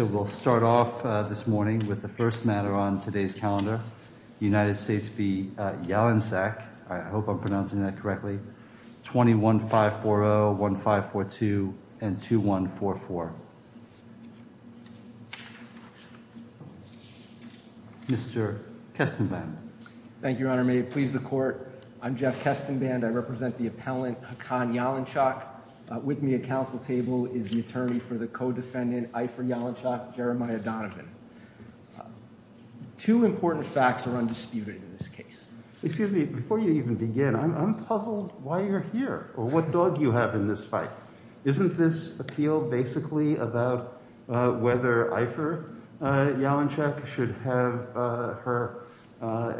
So we'll start off this morning with the first matter on today's calendar, United States v. Jalansak, I hope I'm pronouncing that correctly, 20-1540, 20-1542, and 20-2144. Mr. Kestenband. Thank you, Your Honor, may it please the Court. I'm Jeff Kestenband. I represent the appellant Hakan Jalansak. With me at council table is the attorney for the co-defendant, Eifer Jalansak, Jeremiah Donovan. Two important facts are undisputed in this case. Excuse me, before you even begin, I'm puzzled why you're here, or what dog you have in this fight. Isn't this appeal basically about whether Eifer Jalansak should have her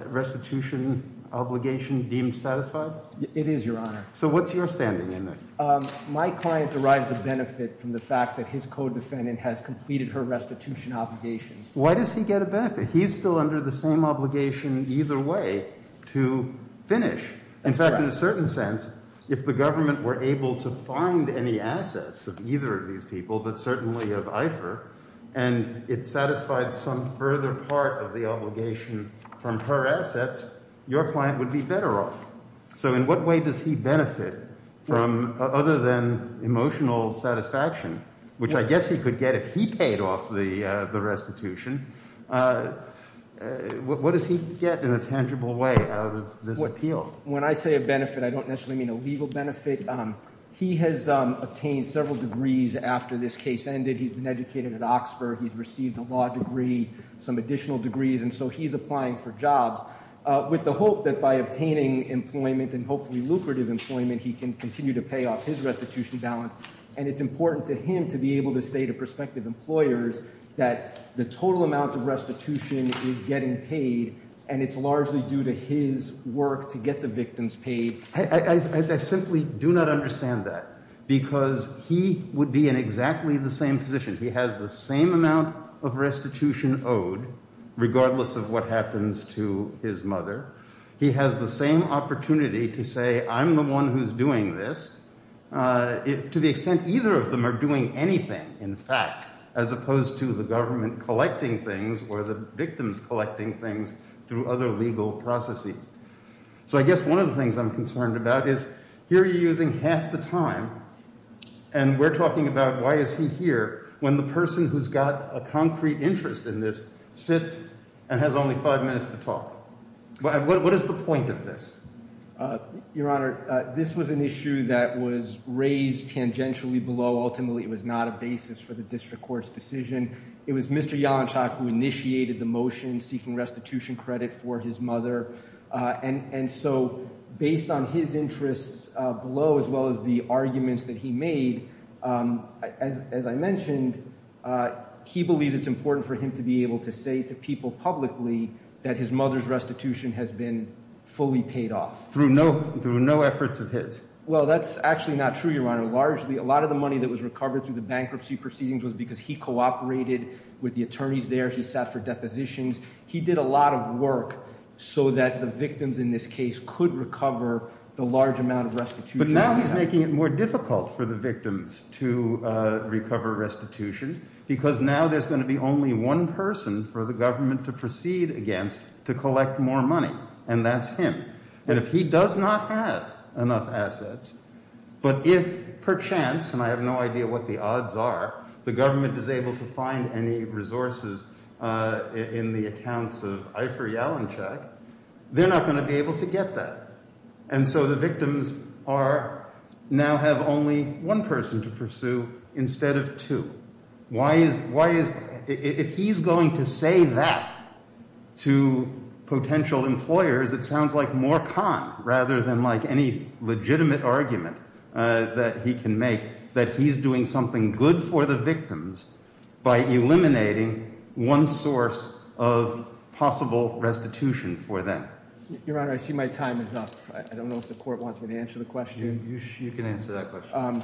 restitution obligation deemed satisfied? It is, Your Honor. So what's your standing in this? My client derives a benefit from the fact that his co-defendant has completed her restitution obligations. Why does he get a benefit? He's still under the same obligation either way to finish. In fact, in a certain sense, if the government were able to find any assets of either of these people, but certainly of Eifer, and it satisfied some further part of the obligation from her assets, your client would be better off. So in what way does he benefit from, other than emotional satisfaction, which I guess he could get if he paid off the restitution, what does he get in a tangible way out of this appeal? When I say a benefit, I don't necessarily mean a legal benefit. He has obtained several degrees after this case ended. He's been educated at Oxford. He's received a law degree, some additional degrees, and so he's applying for jobs with the hope that by obtaining employment, and hopefully lucrative employment, he can continue to pay off his restitution balance. And it's important to him to be able to say to prospective employers that the total amount of restitution is getting paid, and it's largely due to his work to get the victims paid. I simply do not understand that, because he would be in exactly the same position. He has the same amount of restitution owed, regardless of what happens to his mother. He has the same opportunity to say, I'm the one who's doing this, to the extent either of them are doing anything, in fact, as opposed to the government collecting things or the victims collecting things through other legal processes. So I guess one of the things I'm concerned about is, here you're using half the time, and we're talking about why is he here, when the person who's got a concrete interest in this sits and has only five minutes to talk. What is the point of this? Your Honor, this was an issue that was raised tangentially below. Ultimately, it was not a basis for the district court's decision. It was Mr. Yalanchak who initiated the motion seeking restitution credit for his mother. And so, based on his interests below, as well as the arguments that he made, as I mentioned, he believes it's important for him to be able to say to people publicly that his mother's restitution has been fully paid off. Through no efforts of his. Well, that's actually not true, Your Honor. Largely, a lot of the money that was recovered through the bankruptcy proceedings was because he cooperated with the attorneys there. He sat for depositions. He did a lot of work so that the victims in this case could recover the large amount of restitution. But now he's making it more difficult for the victims to recover restitution, because now there's going to be only one person for the government to proceed against to collect more money, and that's him. And if he does not have enough assets, but if perchance, and I have no idea what the odds are, the government is able to find any resources in the accounts of Eifer Yalanchak, they're not going to be able to get that. And so the victims are, now have only one person to pursue instead of two. Why is, if he's going to say that to potential employers, it sounds like more con rather than any legitimate argument that he can make. That he's doing something good for the victims by eliminating one source of possible restitution for them. Your Honor, I see my time is up. I don't know if the court wants me to answer the question. You can answer that question.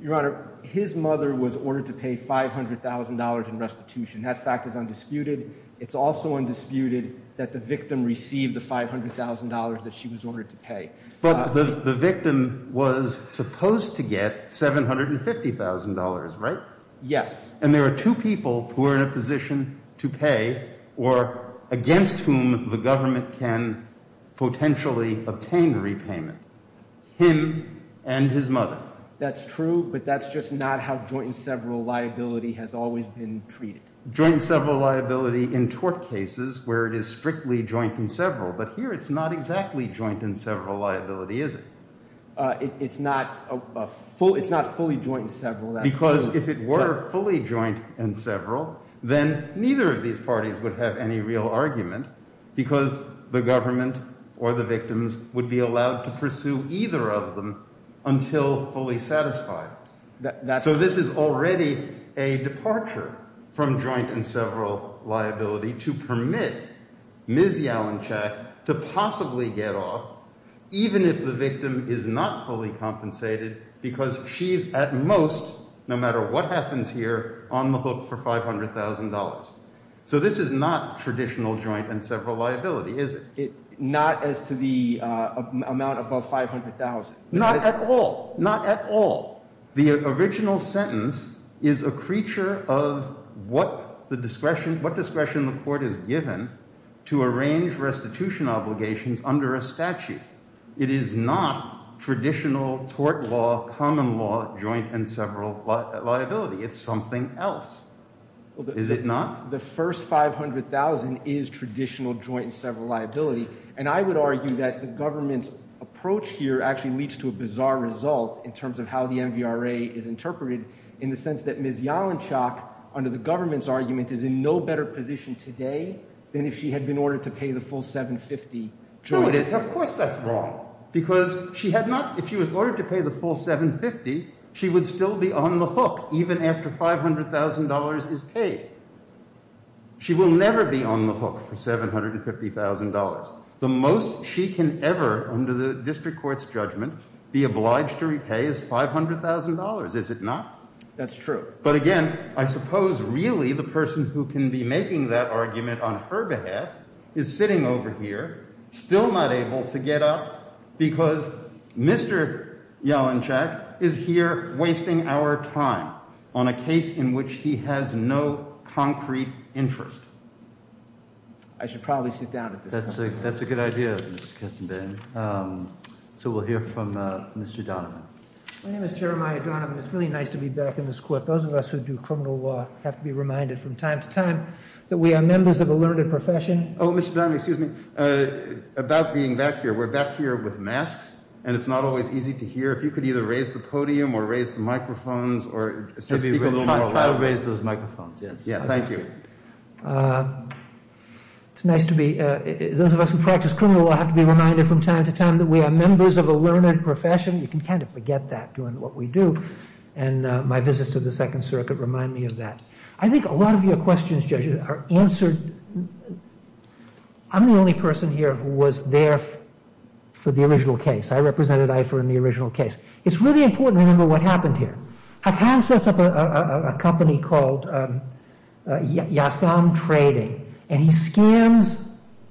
Your Honor, his mother was ordered to pay $500,000 in restitution. That fact is undisputed. It's also undisputed that the victim received the $500,000 that she was ordered to pay. But the victim was supposed to get $750,000, right? Yes. And there are two people who are in a position to pay or against whom the government can potentially obtain repayment. Him and his mother. That's true, but that's just not how joint and several liability has always been treated. Joint and several liability in tort cases where it is strictly joint and several. But here, it's not exactly joint and several liability, is it? It's not fully joint and several, that's true. Because if it were fully joint and several, then neither of these parties would have any real argument. Because the government or the victims would be allowed to pursue either of them until fully satisfied. So this is already a departure from joint and several liability to permit Ms. Yalinchak to possibly get off. Even if the victim is not fully compensated because she's at most, no matter what happens here, on the hook for $500,000. So this is not traditional joint and several liability, is it? Not as to the amount above $500,000. Not at all, not at all. The original sentence is a creature of what the discretion, what discretion the court has given to arrange restitution obligations under a statute. It is not traditional tort law, common law, joint and several liability. It's something else, is it not? The first $500,000 is traditional joint and several liability. And I would argue that the government's approach here actually leads to a bizarre result in terms of how the MVRA is interpreted. In the sense that Ms. Yalinchak, under the government's argument, is in no better position today than if she had been ordered to pay the full $750,000. No it isn't, of course that's wrong. Because if she was ordered to pay the full $750,000, she would still be on the hook even after $500,000 is paid. She will never be on the hook for $750,000. The most she can ever, under the district court's judgment, be obliged to repay is $500,000, is it not? That's true. But again, I suppose really the person who can be making that argument on her behalf is sitting over here, still not able to get up, because Mr. Yalinchak is here wasting our time on a case in which he has no concrete interest. I should probably sit down at this point. That's a good idea, Mr. Kestenbaum. So we'll hear from Mr. Donovan. My name is Jeremiah Donovan. It's really nice to be back in this court. Those of us who do criminal law have to be reminded from time to time that we are members of a learned profession. Mr. Donovan, excuse me, about being back here. We're back here with masks, and it's not always easy to hear. If you could either raise the podium or raise the microphones or speak a little more loudly. Try to raise those microphones, yes. Yeah, thank you. It's nice to be, those of us who practice criminal law have to be reminded from time to time that we are members of a learned profession. You can kind of forget that doing what we do. And my visits to the Second Circuit remind me of that. I think a lot of your questions, judges, are answered. I'm the only person here who was there for the original case. I represented IFER in the original case. It's really important to remember what happened here. Hakan sets up a company called Yasam Trading, and he scams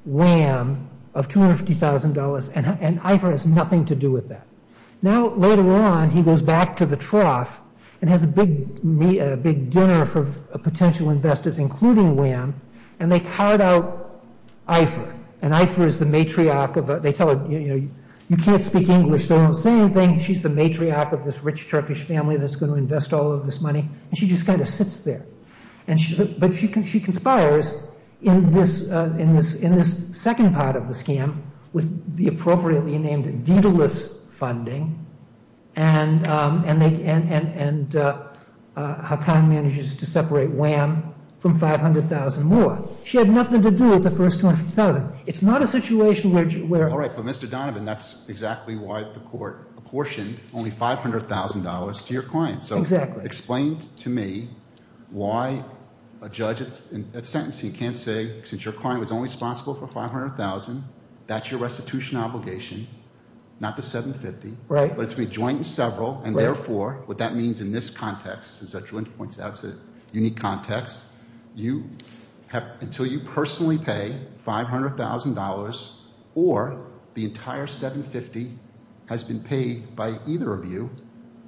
WAM of $250,000, and IFER has nothing to do with that. Now, later on, he goes back to the trough and has a big dinner for potential investors, including WAM, and they card out IFER. And IFER is the matriarch of it. They tell her, you know, you can't speak English, so don't say anything. She's the matriarch of this rich Turkish family that's going to invest all of this money, and she just kind of sits there. But she conspires in this second part of the scam with the appropriately named Daedalus funding, and Hakan manages to separate WAM from $500,000 more. She had nothing to do with the first $250,000. It's not a situation where you were. All right, but Mr. Donovan, that's exactly why the court apportioned only $500,000 to your client. So explain to me why a judge in that sentencing can't say, since your client was only responsible for $500,000, that's your restitution obligation, not the $750,000, but it's going to be joint and several. And therefore, what that means in this context, as Dr. Lynch points out, it's a unique context. Until you personally pay $500,000 or the entire $750,000 has been paid by either of you,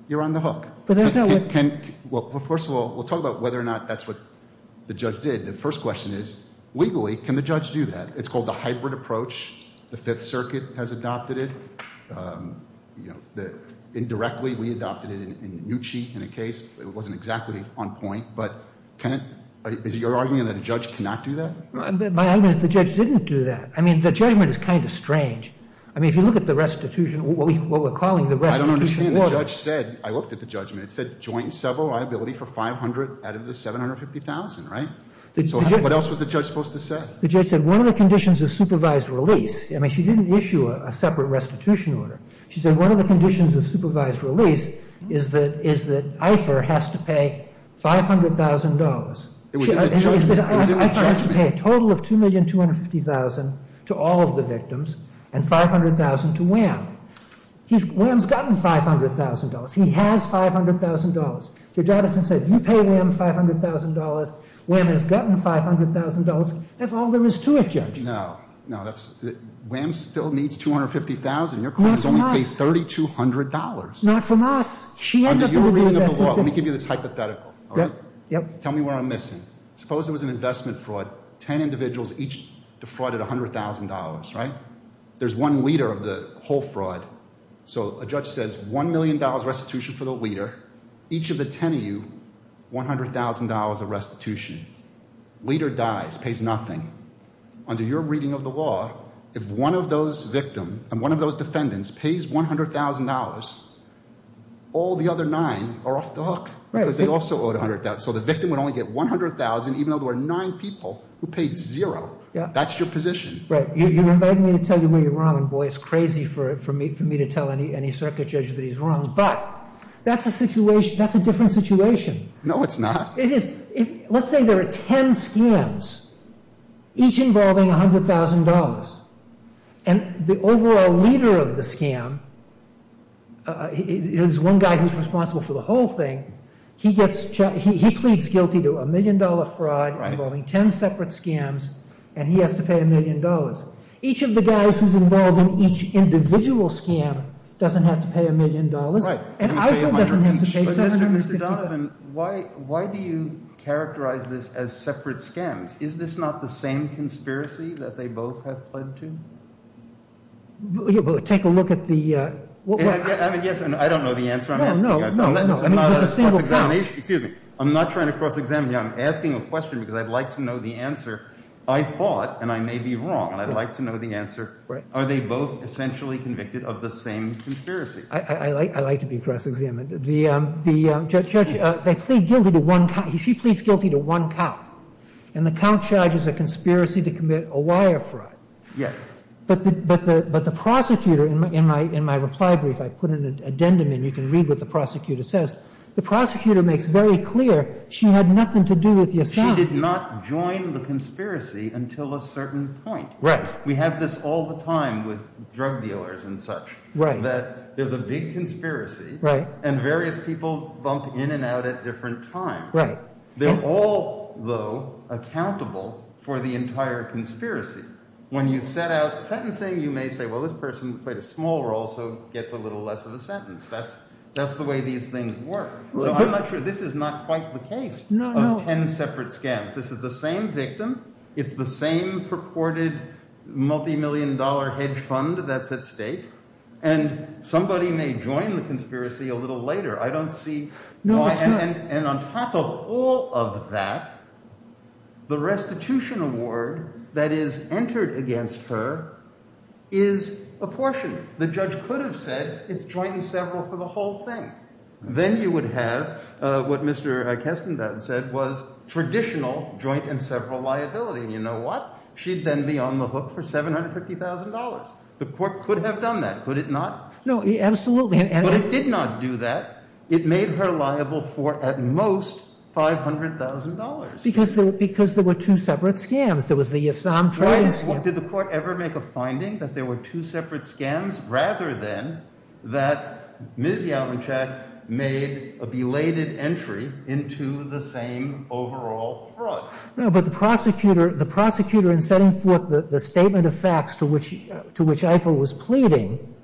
you're on the hook. Well, first of all, we'll talk about whether or not that's what the judge did. The first question is, legally, can the judge do that? It's called the hybrid approach. The Fifth Circuit has adopted it. Indirectly, we adopted it in Nucci in a case, it wasn't exactly on point. But is your argument that a judge cannot do that? My argument is the judge didn't do that. I mean, the judgment is kind of strange. I mean, if you look at the restitution, what we're calling the restitution order. I don't understand. The judge said, I looked at the judgment, it said joint and several liability for $500,000 out of the $750,000, right? So what else was the judge supposed to say? The judge said one of the conditions of supervised release, I mean, she didn't issue a separate restitution order. She said one of the conditions of supervised release is that IFER has to pay $500,000. It was in the judgment. And she said IFER has to pay a total of $2,250,000 to all of the victims and $500,000 to WHAM. WHAM's gotten $500,000. He has $500,000. Judge Atherton said, you pay WHAM $500,000, WHAM has gotten $500,000, that's all there is to it, Judge. No, no, WHAM still needs $250,000. Your claim is only $3,200. Not from us. She ended up not doing that. Let me give you this hypothetical. Yep. Tell me where I'm missing. Suppose there was an investment fraud, 10 individuals each defrauded $100,000, right? There's one leader of the whole fraud. So a judge says $1 million restitution for the leader. Each of the 10 of you, $100,000 of restitution. Leader dies, pays nothing. Under your reading of the law, if one of those victims and one of those defendants pays $100,000, all the other nine are off the hook because they also owed $100,000. So the victim would only get $100,000 even though there were nine people who paid zero. That's your position. Right. You're inviting me to tell you where you're wrong, and boy, it's crazy for me to tell any circuit judge that he's wrong. But that's a situation, that's a different situation. No, it's not. Let's say there are 10 scams, each involving $100,000. And the overall leader of the scam is one guy who's responsible for the whole thing. He pleads guilty to $1 million fraud involving 10 separate scams, and he has to pay $1 million. Each of the guys who's involved in each individual scam doesn't have to pay $1 million. And Eiffel doesn't have to pay $700,000. But Mr. Donovan, why do you characterize this as separate scams? Is this not the same conspiracy that they both have fled to? Take a look at the- I mean, yes, I don't know the answer I'm asking you. No, no, no, I mean, there's a single- Excuse me. I'm not trying to cross-examine you. I'm asking a question because I'd like to know the answer. I thought, and I may be wrong, and I'd like to know the answer, are they both essentially convicted of the same conspiracy? I like to be cross-examined. The judge, they plead guilty to one count. She pleads guilty to one count, and the count charges a conspiracy to commit a wire fraud. Yes. But the prosecutor, in my reply brief, I put an addendum in. You can read what the prosecutor says. The prosecutor makes very clear she had nothing to do with Yassab. She did not join the conspiracy until a certain point. Right. We have this all the time with drug dealers and such. Right. That there's a big conspiracy, and various people bump in and out at different times. Right. They're all, though, accountable for the entire conspiracy. When you set out sentencing, you may say, well, this person played a small role, so gets a little less of a sentence. That's the way these things work. So I'm not sure this is not quite the case of ten separate scams. This is the same victim. It's the same purported multimillion-dollar hedge fund that's at stake. And somebody may join the conspiracy a little later. I don't see why. And on top of all of that, the restitution award that is entered against her is apportioned. The judge could have said it's joint and several for the whole thing. Then you would have what Mr. Kestenbaum said was traditional joint and several liability. And you know what? She'd then be on the hook for $750,000. The court could have done that, could it not? No, absolutely. But it did not do that. It made her liable for, at most, $500,000. Because there were two separate scams. There was the Assam trading scam. Did the court ever make a finding that there were two separate scams, rather than that Ms. Yelvinchak made a belated entry into the same overall fraud? No, but the prosecutor in setting forth the statement of facts to which Eifer was pleading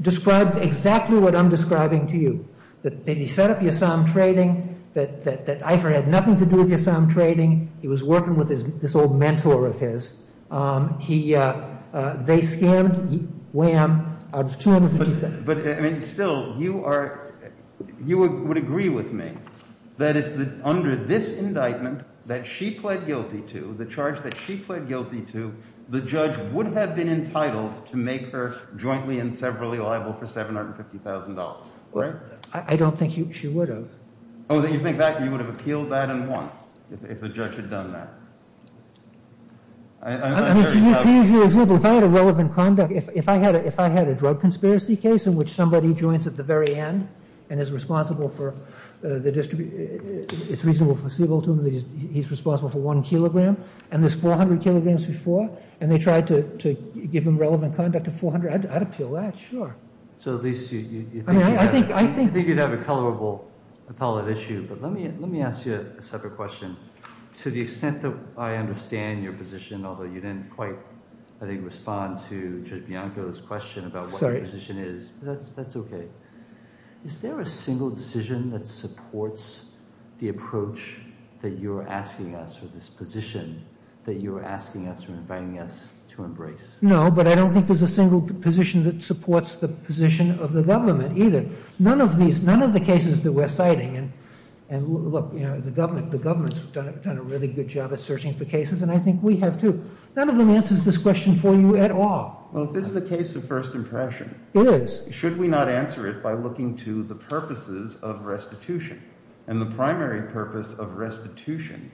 described exactly what I'm describing to you, that he set up the Assam trading, that Eifer had nothing to do with the Assam trading. He was working with this old mentor of his. They scammed Wham out of $250,000. But still, you would agree with me that under this indictment that she pled guilty to, the charge that she pled guilty to, the judge would have been entitled to make her jointly and severally liable for $750,000, right? I don't think she would have. Oh, you think that? You would have appealed that and won if the judge had done that. I mean, to use your example, if I had a relevant conduct, if I had a drug conspiracy case in which somebody joins at the very end and is responsible for the distribution, it's reasonable for Siebel to believe that he's responsible for one kilogram, and there's 400 kilograms before, and they tried to give him relevant conduct of 400, I'd appeal that, sure. So at least you think you'd have a colorable appellate issue. But let me ask you a separate question. To the extent that I understand your position, although you didn't quite, I think, respond to Judge Bianco's question about what your position is, that's okay. Is there a single decision that supports the approach that you're asking us for this position that you're asking us or inviting us to embrace? No, but I don't think there's a single position that supports the position of the government either. None of the cases that we're citing, and look, the government's done a really good job of searching for cases, and I think we have too. None of them answers this question for you at all. Well, if this is the case of first impression- It is. Should we not answer it by looking to the purposes of restitution? And the primary purpose of restitution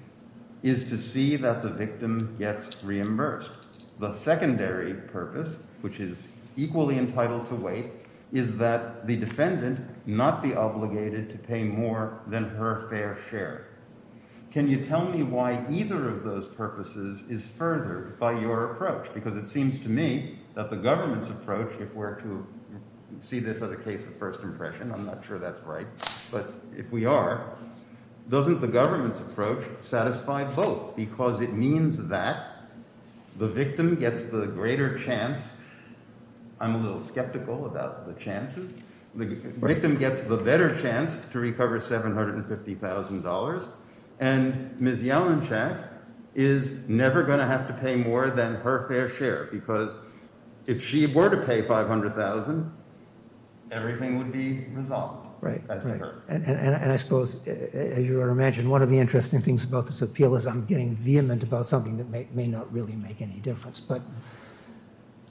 is to see that the victim gets reimbursed. The secondary purpose, which is equally entitled to wait, is that the defendant not be obligated to pay more than her fair share. Can you tell me why either of those purposes is furthered by your approach? Because it seems to me that the government's approach, if we're to see this as a case of first impression, I'm not sure that's right. But if we are, doesn't the government's approach satisfy both? Because it means that the victim gets the greater chance. I'm a little skeptical about the chances. The victim gets the better chance to recover $750,000, and Ms. Yellenchak is never going to have to pay more than her fair share. Because if she were to pay $500,000, everything would be resolved. Right, and I suppose, as you would imagine, one of the interesting things about this appeal is I'm getting vehement about something that may not really make any difference. But,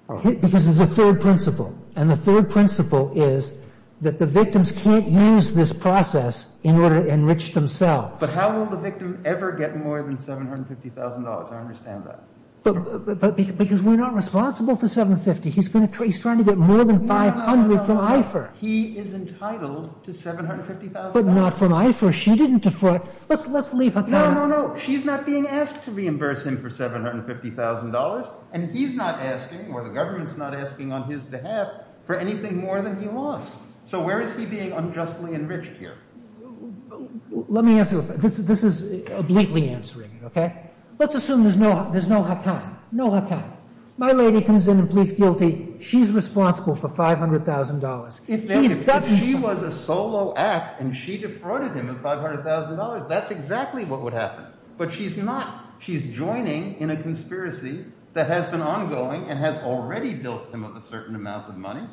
because there's a third principle. And the third principle is that the victims can't use this process in order to enrich themselves. But how will the victim ever get more than $750,000, I understand that. Because we're not responsible for $750,000, he's trying to get more than $500,000 from IFER. He is entitled to $750,000. But not from IFER, she didn't defraud, let's leave it at that. No, no, no, she's not being asked to reimburse him for $750,000. And he's not asking, or the government's not asking on his behalf, for anything more than he lost. So where is he being unjustly enriched here? Let me answer, this is obliquely answering, okay? Let's assume there's no hakan, no hakan. My lady comes in and pleads guilty, she's responsible for $500,000. If she was a solo act and she defrauded him of $500,000, that's exactly what would happen. But she's not, she's joining in a conspiracy that has been ongoing and has already built him up a certain amount of money.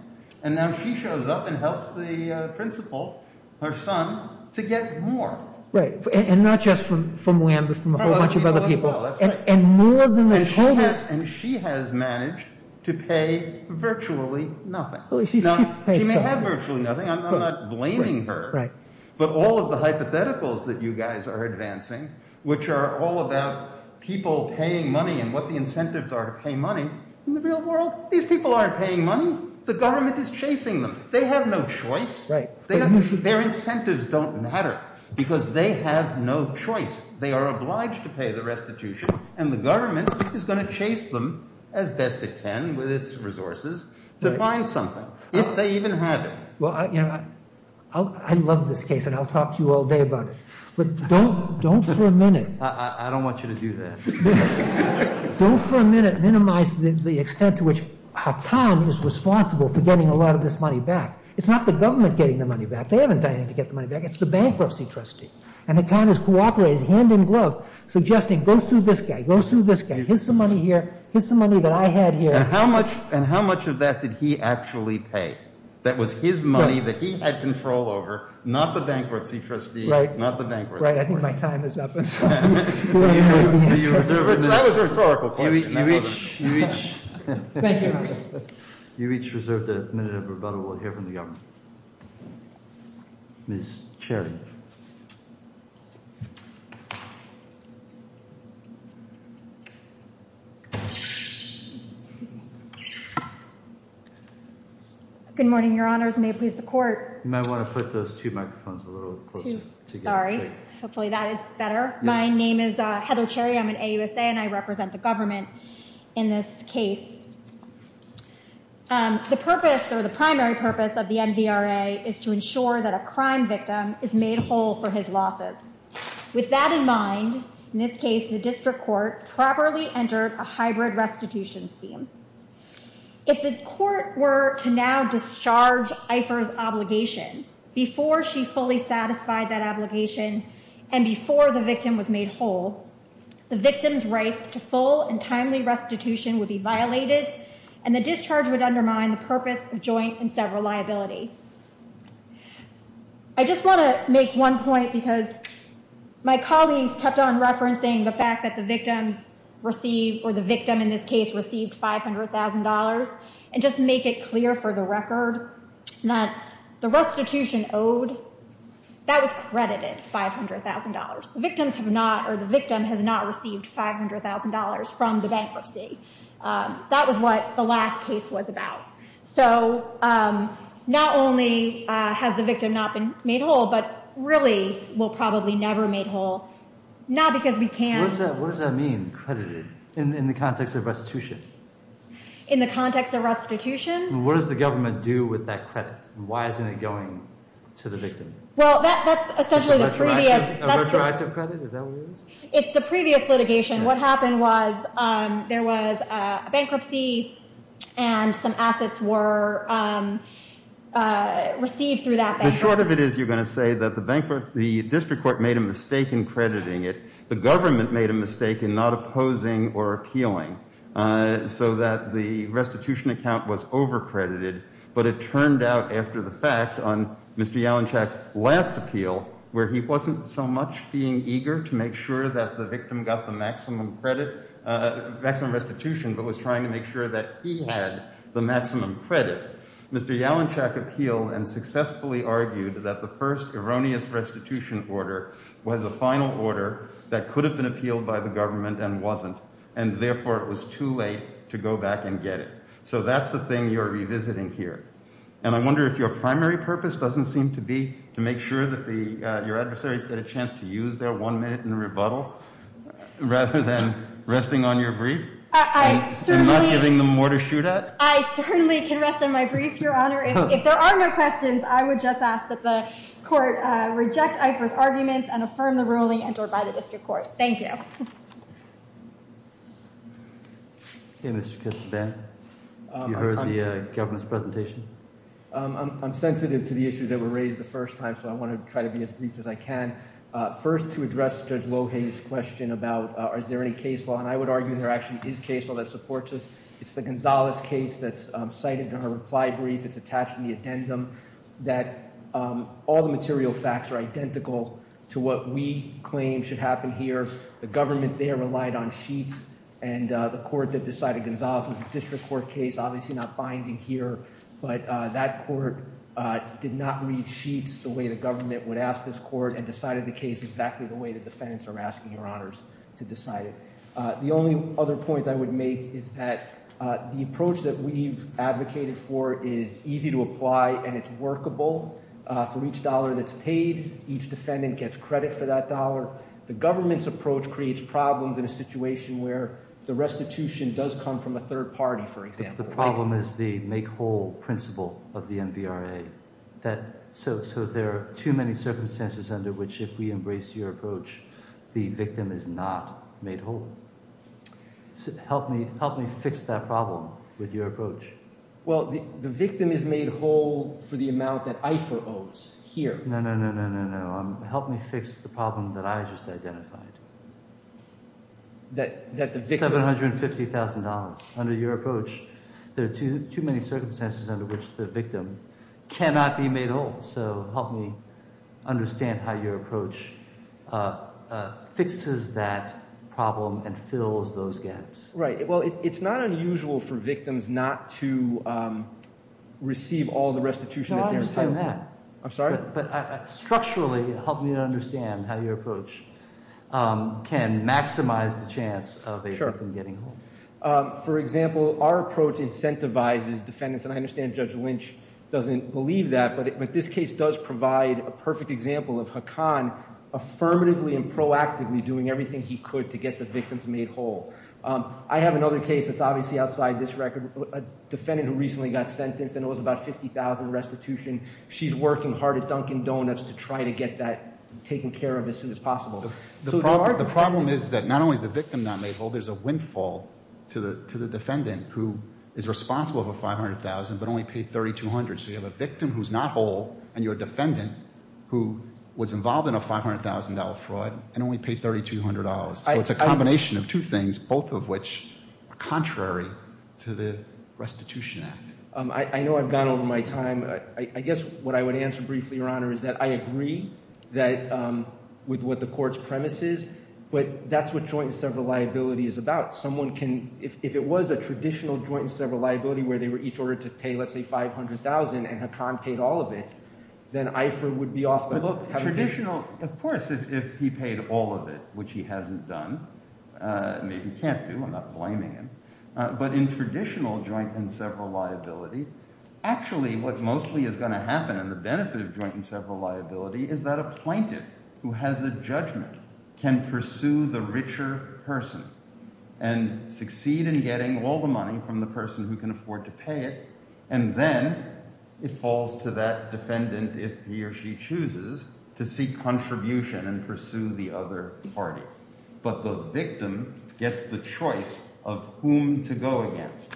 And now she shows up and helps the principal, her son, to get more. Right, and not just from Wham, but from a whole bunch of other people as well, that's right. And more than they told him. And she has managed to pay virtually nothing. She may have virtually nothing, I'm not blaming her. But all of the hypotheticals that you guys are advancing, which are all about people paying money and what the incentives are to pay money, in the real world, these people aren't paying money. The government is chasing them. They have no choice. Their incentives don't matter, because they have no choice. They are obliged to pay the restitution, and the government is going to chase them, as best it can with its resources, to find something, if they even have it. Well, I love this case, and I'll talk to you all day about it. But don't for a minute- I don't want you to do that. Don't for a minute minimize the extent to which Haqqan is responsible for getting a lot of this money back. It's not the government getting the money back. They haven't done anything to get the money back. It's the bankruptcy trustee. And Haqqan has cooperated hand in glove, suggesting, go sue this guy, go sue this guy. Here's some money here, here's some money that I had here. And how much of that did he actually pay? That was his money that he had control over, not the bankruptcy trustee, not the bankruptcy trustee. Right, I think my time is up, and so I'm going to have to answer. That was a rhetorical question, I'm sorry. Thank you. You each reserve a minute of rebuttal, we'll hear from the government. Ms. Cherry. Good morning, your honors, may it please the court. You might want to put those two microphones a little closer together. Sorry, hopefully that is better. My name is Heather Cherry, I'm an AUSA and I represent the government in this case. The purpose, or the primary purpose of the MVRA is to ensure that a crime victim is made whole for his losses. With that in mind, in this case, the district court properly entered a hybrid restitution scheme. If the court were to now discharge Ifer's obligation, before she fully satisfied that obligation, and before the victim was made whole, the victim's rights to full and timely restitution would be violated, and the discharge would undermine the purpose of joint and several liability. I just want to make one point because my colleagues kept on referencing the fact that the victims received, or the victim in this case received $500,000. And just to make it clear for the record, that the restitution owed, that was credited $500,000. The victim has not received $500,000 from the bankruptcy, that was what the last case was about. So, not only has the victim not been made whole, but really will probably never made whole. Not because we can't- What does that mean, credited, in the context of restitution? In the context of restitution? What does the government do with that credit? Why isn't it going to the victim? Well, that's essentially the previous- A retroactive credit, is that what it is? It's the previous litigation. What happened was, there was a bankruptcy, and some assets were received through that bankruptcy. The short of it is, you're going to say that the district court made a mistake in crediting it. The government made a mistake in not opposing or appealing, so that the restitution account was over-credited. But it turned out, after the fact, on Mr. Yalinchak's last appeal, where he wasn't so much being eager to make sure that the victim got the maximum credit- maximum restitution, but was trying to make sure that he had the maximum credit, Mr. Yalinchak appealed and successfully argued that the first erroneous restitution order was a final order that could have been appealed by the government and wasn't. And therefore, it was too late to go back and get it. So that's the thing you're revisiting here. And I wonder if your primary purpose doesn't seem to be to make sure that the- your adversaries get a chance to use their one minute in rebuttal, rather than resting on your brief? And not giving them more to shoot at? I certainly can rest on my brief, Your Honor. If there are no questions, I would just ask that the court reject Eifert's arguments and affirm the ruling entered by the district court. Thank you. Hey, Mr. Casaban, you heard the government's presentation? I'm sensitive to the issues that were raised the first time, so I want to try to be as brief as I can. First, to address Judge Lohay's question about is there any case law, and I would argue there actually is case law that supports this. It's the Gonzales case that's cited in her reply brief. It's attached in the addendum that all the material facts are identical to what we claim should happen here. The government there relied on sheets, and the court that decided Gonzales was a district court case, obviously not binding here. But that court did not read sheets the way the government would ask this court and decided the case exactly the way the defendants are asking, Your Honors, to decide it. The only other point I would make is that the approach that we've advocated for is easy to apply and it's workable for each dollar that's paid. Each defendant gets credit for that dollar. The government's approach creates problems in a situation where the restitution does come from a third party, for example. The problem is the make whole principle of the MVRA. So there are too many circumstances under which if we embrace your approach, the victim is not made whole. Help me fix that problem with your approach. Well, the victim is made whole for the amount that IFA owes here. No, no, no, no, no, no, no, no. Help me fix the problem that I just identified, $750,000 under your approach. There are too many circumstances under which the victim cannot be made whole. So help me understand how your approach fixes that problem and fills those gaps. Right, well, it's not unusual for victims not to receive all the restitution that they're- No, I'm just saying that. I'm sorry? Structurally, help me understand how your approach can maximize the chance of a victim getting whole. For example, our approach incentivizes defendants, and I understand Judge Lynch doesn't believe that, but this case does provide a perfect example of Haqqan affirmatively and proactively doing everything he could to get the victims made whole. I have another case that's obviously outside this record, a defendant who recently got sentenced and it was about 50,000 restitution. She's working hard at Dunkin' Donuts to try to get that taken care of as soon as possible. So there are- The problem is that not only is the victim not made whole, there's a windfall to the defendant who is responsible for 500,000 but only paid 3,200. So you have a victim who's not whole and you're a defendant who was involved in a $500,000 fraud and only paid $3,200. So it's a combination of two things, both of which are contrary to the Restitution Act. I know I've gone over my time. I guess what I would answer briefly, Your Honor, is that I agree with what the court's premise is, but that's what joint and several liability is about. Someone can, if it was a traditional joint and several liability where they were each ordered to pay, let's say, 500,000 and Haqqan paid all of it, then IFER would be off the hook. Traditional, of course, if he paid all of it, which he hasn't done, maybe he can't do, I'm not blaming him. But in traditional joint and several liability, actually what mostly is going to happen in the benefit of joint and several liability is that a plaintiff who has a judgment can pursue the richer person and succeed in getting all the money from the person who can afford to pay it. And then it falls to that defendant, if he or she chooses, to seek contribution and pursue the other party. But the victim gets the choice of whom to go against.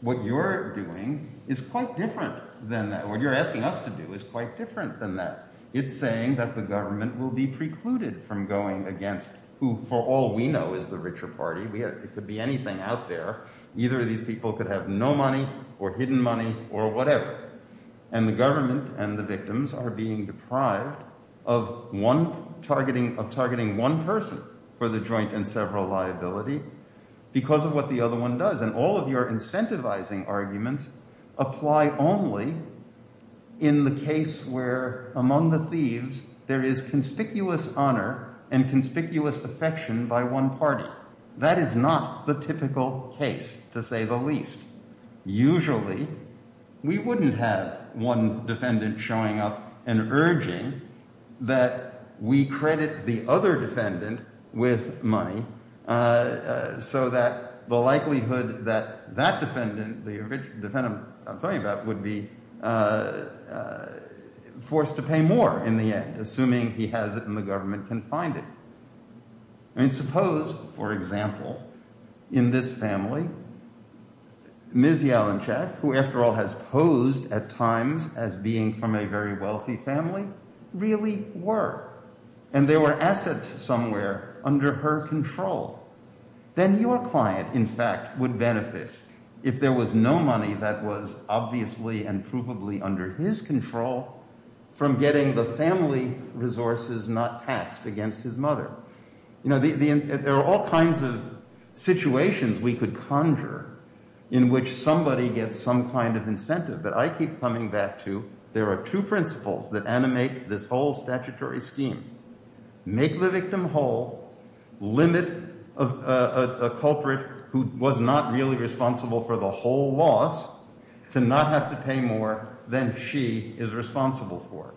What you're doing is quite different than that. What you're asking us to do is quite different than that. It's saying that the government will be precluded from going against who, for all we know, is the richer party. It could be anything out there. Either of these people could have no money or hidden money or whatever. And the government and the victims are being deprived of targeting one person for the joint and several liability because of what the other one does. And all of your incentivizing arguments apply only in the case where, among the thieves, there is conspicuous honor and conspicuous affection by one party. That is not the typical case, to say the least. Usually, we wouldn't have one defendant showing up and urging that we credit the other defendant with money so that the likelihood that that defendant, the defendant I'm talking about, would be forced to pay more in the end, assuming he has it and the government can find it. I mean, suppose, for example, in this family, Ms. Yalinchak, who, after all, has posed at times as being from a very wealthy family, really were, and there were assets somewhere under her control. Then your client, in fact, would benefit, if there was no money that was obviously and provably under his control, from getting the family resources not taxed against his mother. You know, there are all kinds of situations we could conjure in which somebody gets some kind of incentive. But I keep coming back to there are two principles that animate this whole statutory scheme. Make the victim whole, limit a culprit who was not really responsible for the whole loss to not have to pay more than she is responsible for.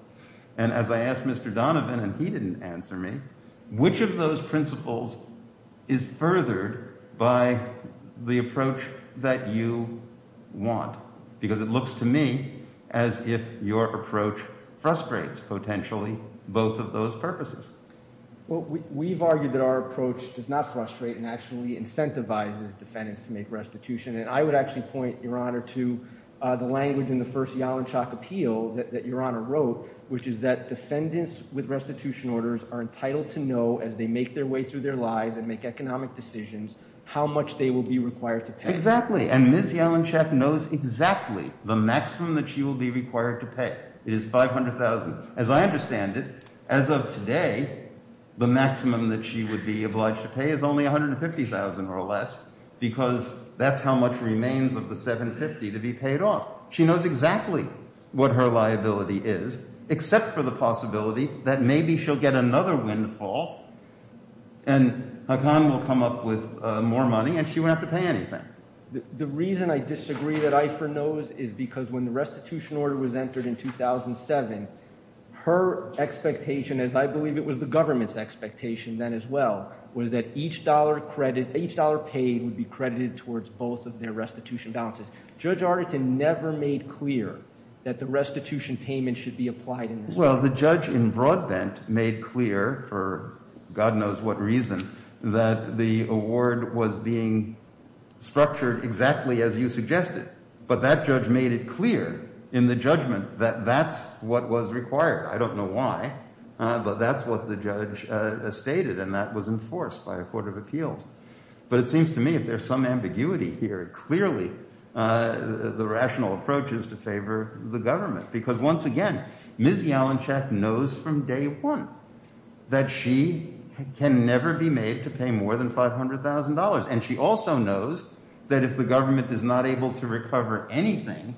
And as I asked Mr. Donovan, and he didn't answer me, which of those principles is furthered by the approach that you want? Because it looks to me as if your approach frustrates potentially both of those purposes. Well, we've argued that our approach does not frustrate and actually incentivizes defendants to make restitution. And I would actually point, Your Honor, to the language in the first Yalinchak appeal that Your Honor wrote, which is that defendants with restitution orders are entitled to know, as they make their way through their lives and make economic decisions, how much they will be required to pay. Exactly. And Ms. Yalinchak knows exactly the maximum that she will be required to pay is $500,000. As I understand it, as of today, the maximum that she would be obliged to pay is only $150,000 or less, because that's how much remains of the $750,000 to be paid off. She knows exactly what her liability is, except for the possibility that maybe she'll get another windfall and Haqqan will come up with more money and she won't have to pay anything. The reason I disagree that Eifer knows is because when the restitution order was entered in 2007, her expectation, as I believe it was the government's expectation then as well, was that each dollar credit, each dollar paid would be credited towards both of their restitution balances. Judge Arnetton never made clear that the restitution payment should be applied. Well, the judge in Broadbent made clear, for God knows what reason, that the award was being structured exactly as you suggested, but that judge made it clear in the judgment that that's what was required. I don't know why, but that's what the judge stated, and that was enforced by a court of appeals. But it seems to me, if there's some ambiguity here, clearly the rational approach is to favor the government, because once again, Ms. Jalinchak knows from day one that she can never be made to pay more than $500,000. And she also knows that if the government is not able to recover anything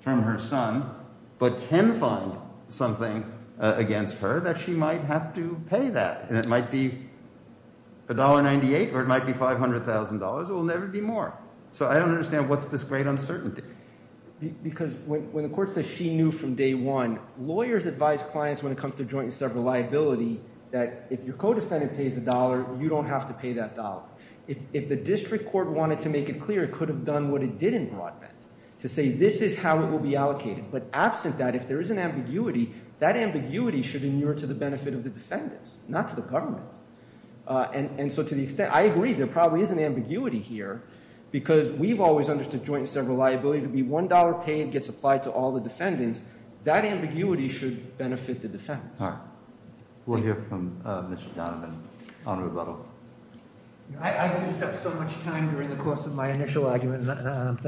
from her son, but can find something against her, that she might have to pay that, and it might be $1.98 or it might be $500,000 or it will never be more. So I don't understand what's this great uncertainty. Because when the court says she knew from day one, lawyers advise clients when it comes to joint and several liability that if your co-defendant pays a dollar, you don't have to pay that dollar. If the district court wanted to make it clear, it could have done what it did in broadband, to say this is how it will be allocated. But absent that, if there is an ambiguity, that ambiguity should inure to the benefit of the defendants, not to the government. And so to the extent, I agree, there probably is an ambiguity here, because we've always understood joint and several liability to be $1 paid, gets applied to all the defendants, that ambiguity should benefit the defendants. All right. We'll hear from Mr. Donovan on rebuttal. I used up so much time during the course of my initial argument, and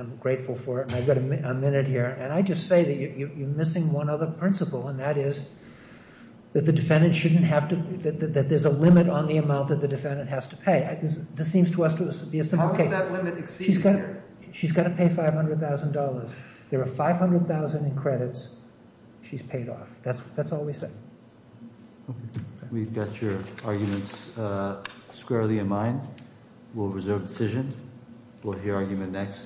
I'm grateful for it, and I've got a minute here. And I just say that you're missing one other principle, and that is that the defendant shouldn't have to, that there's a limit on the amount that the defendant has to pay. This seems to us to be a simple case. How does that limit exceed here? She's got to pay $500,000. There are 500,000 in credits. She's paid off. That's all we say. We've got your arguments squarely in mind. We'll reserve decision. We'll hear argument next.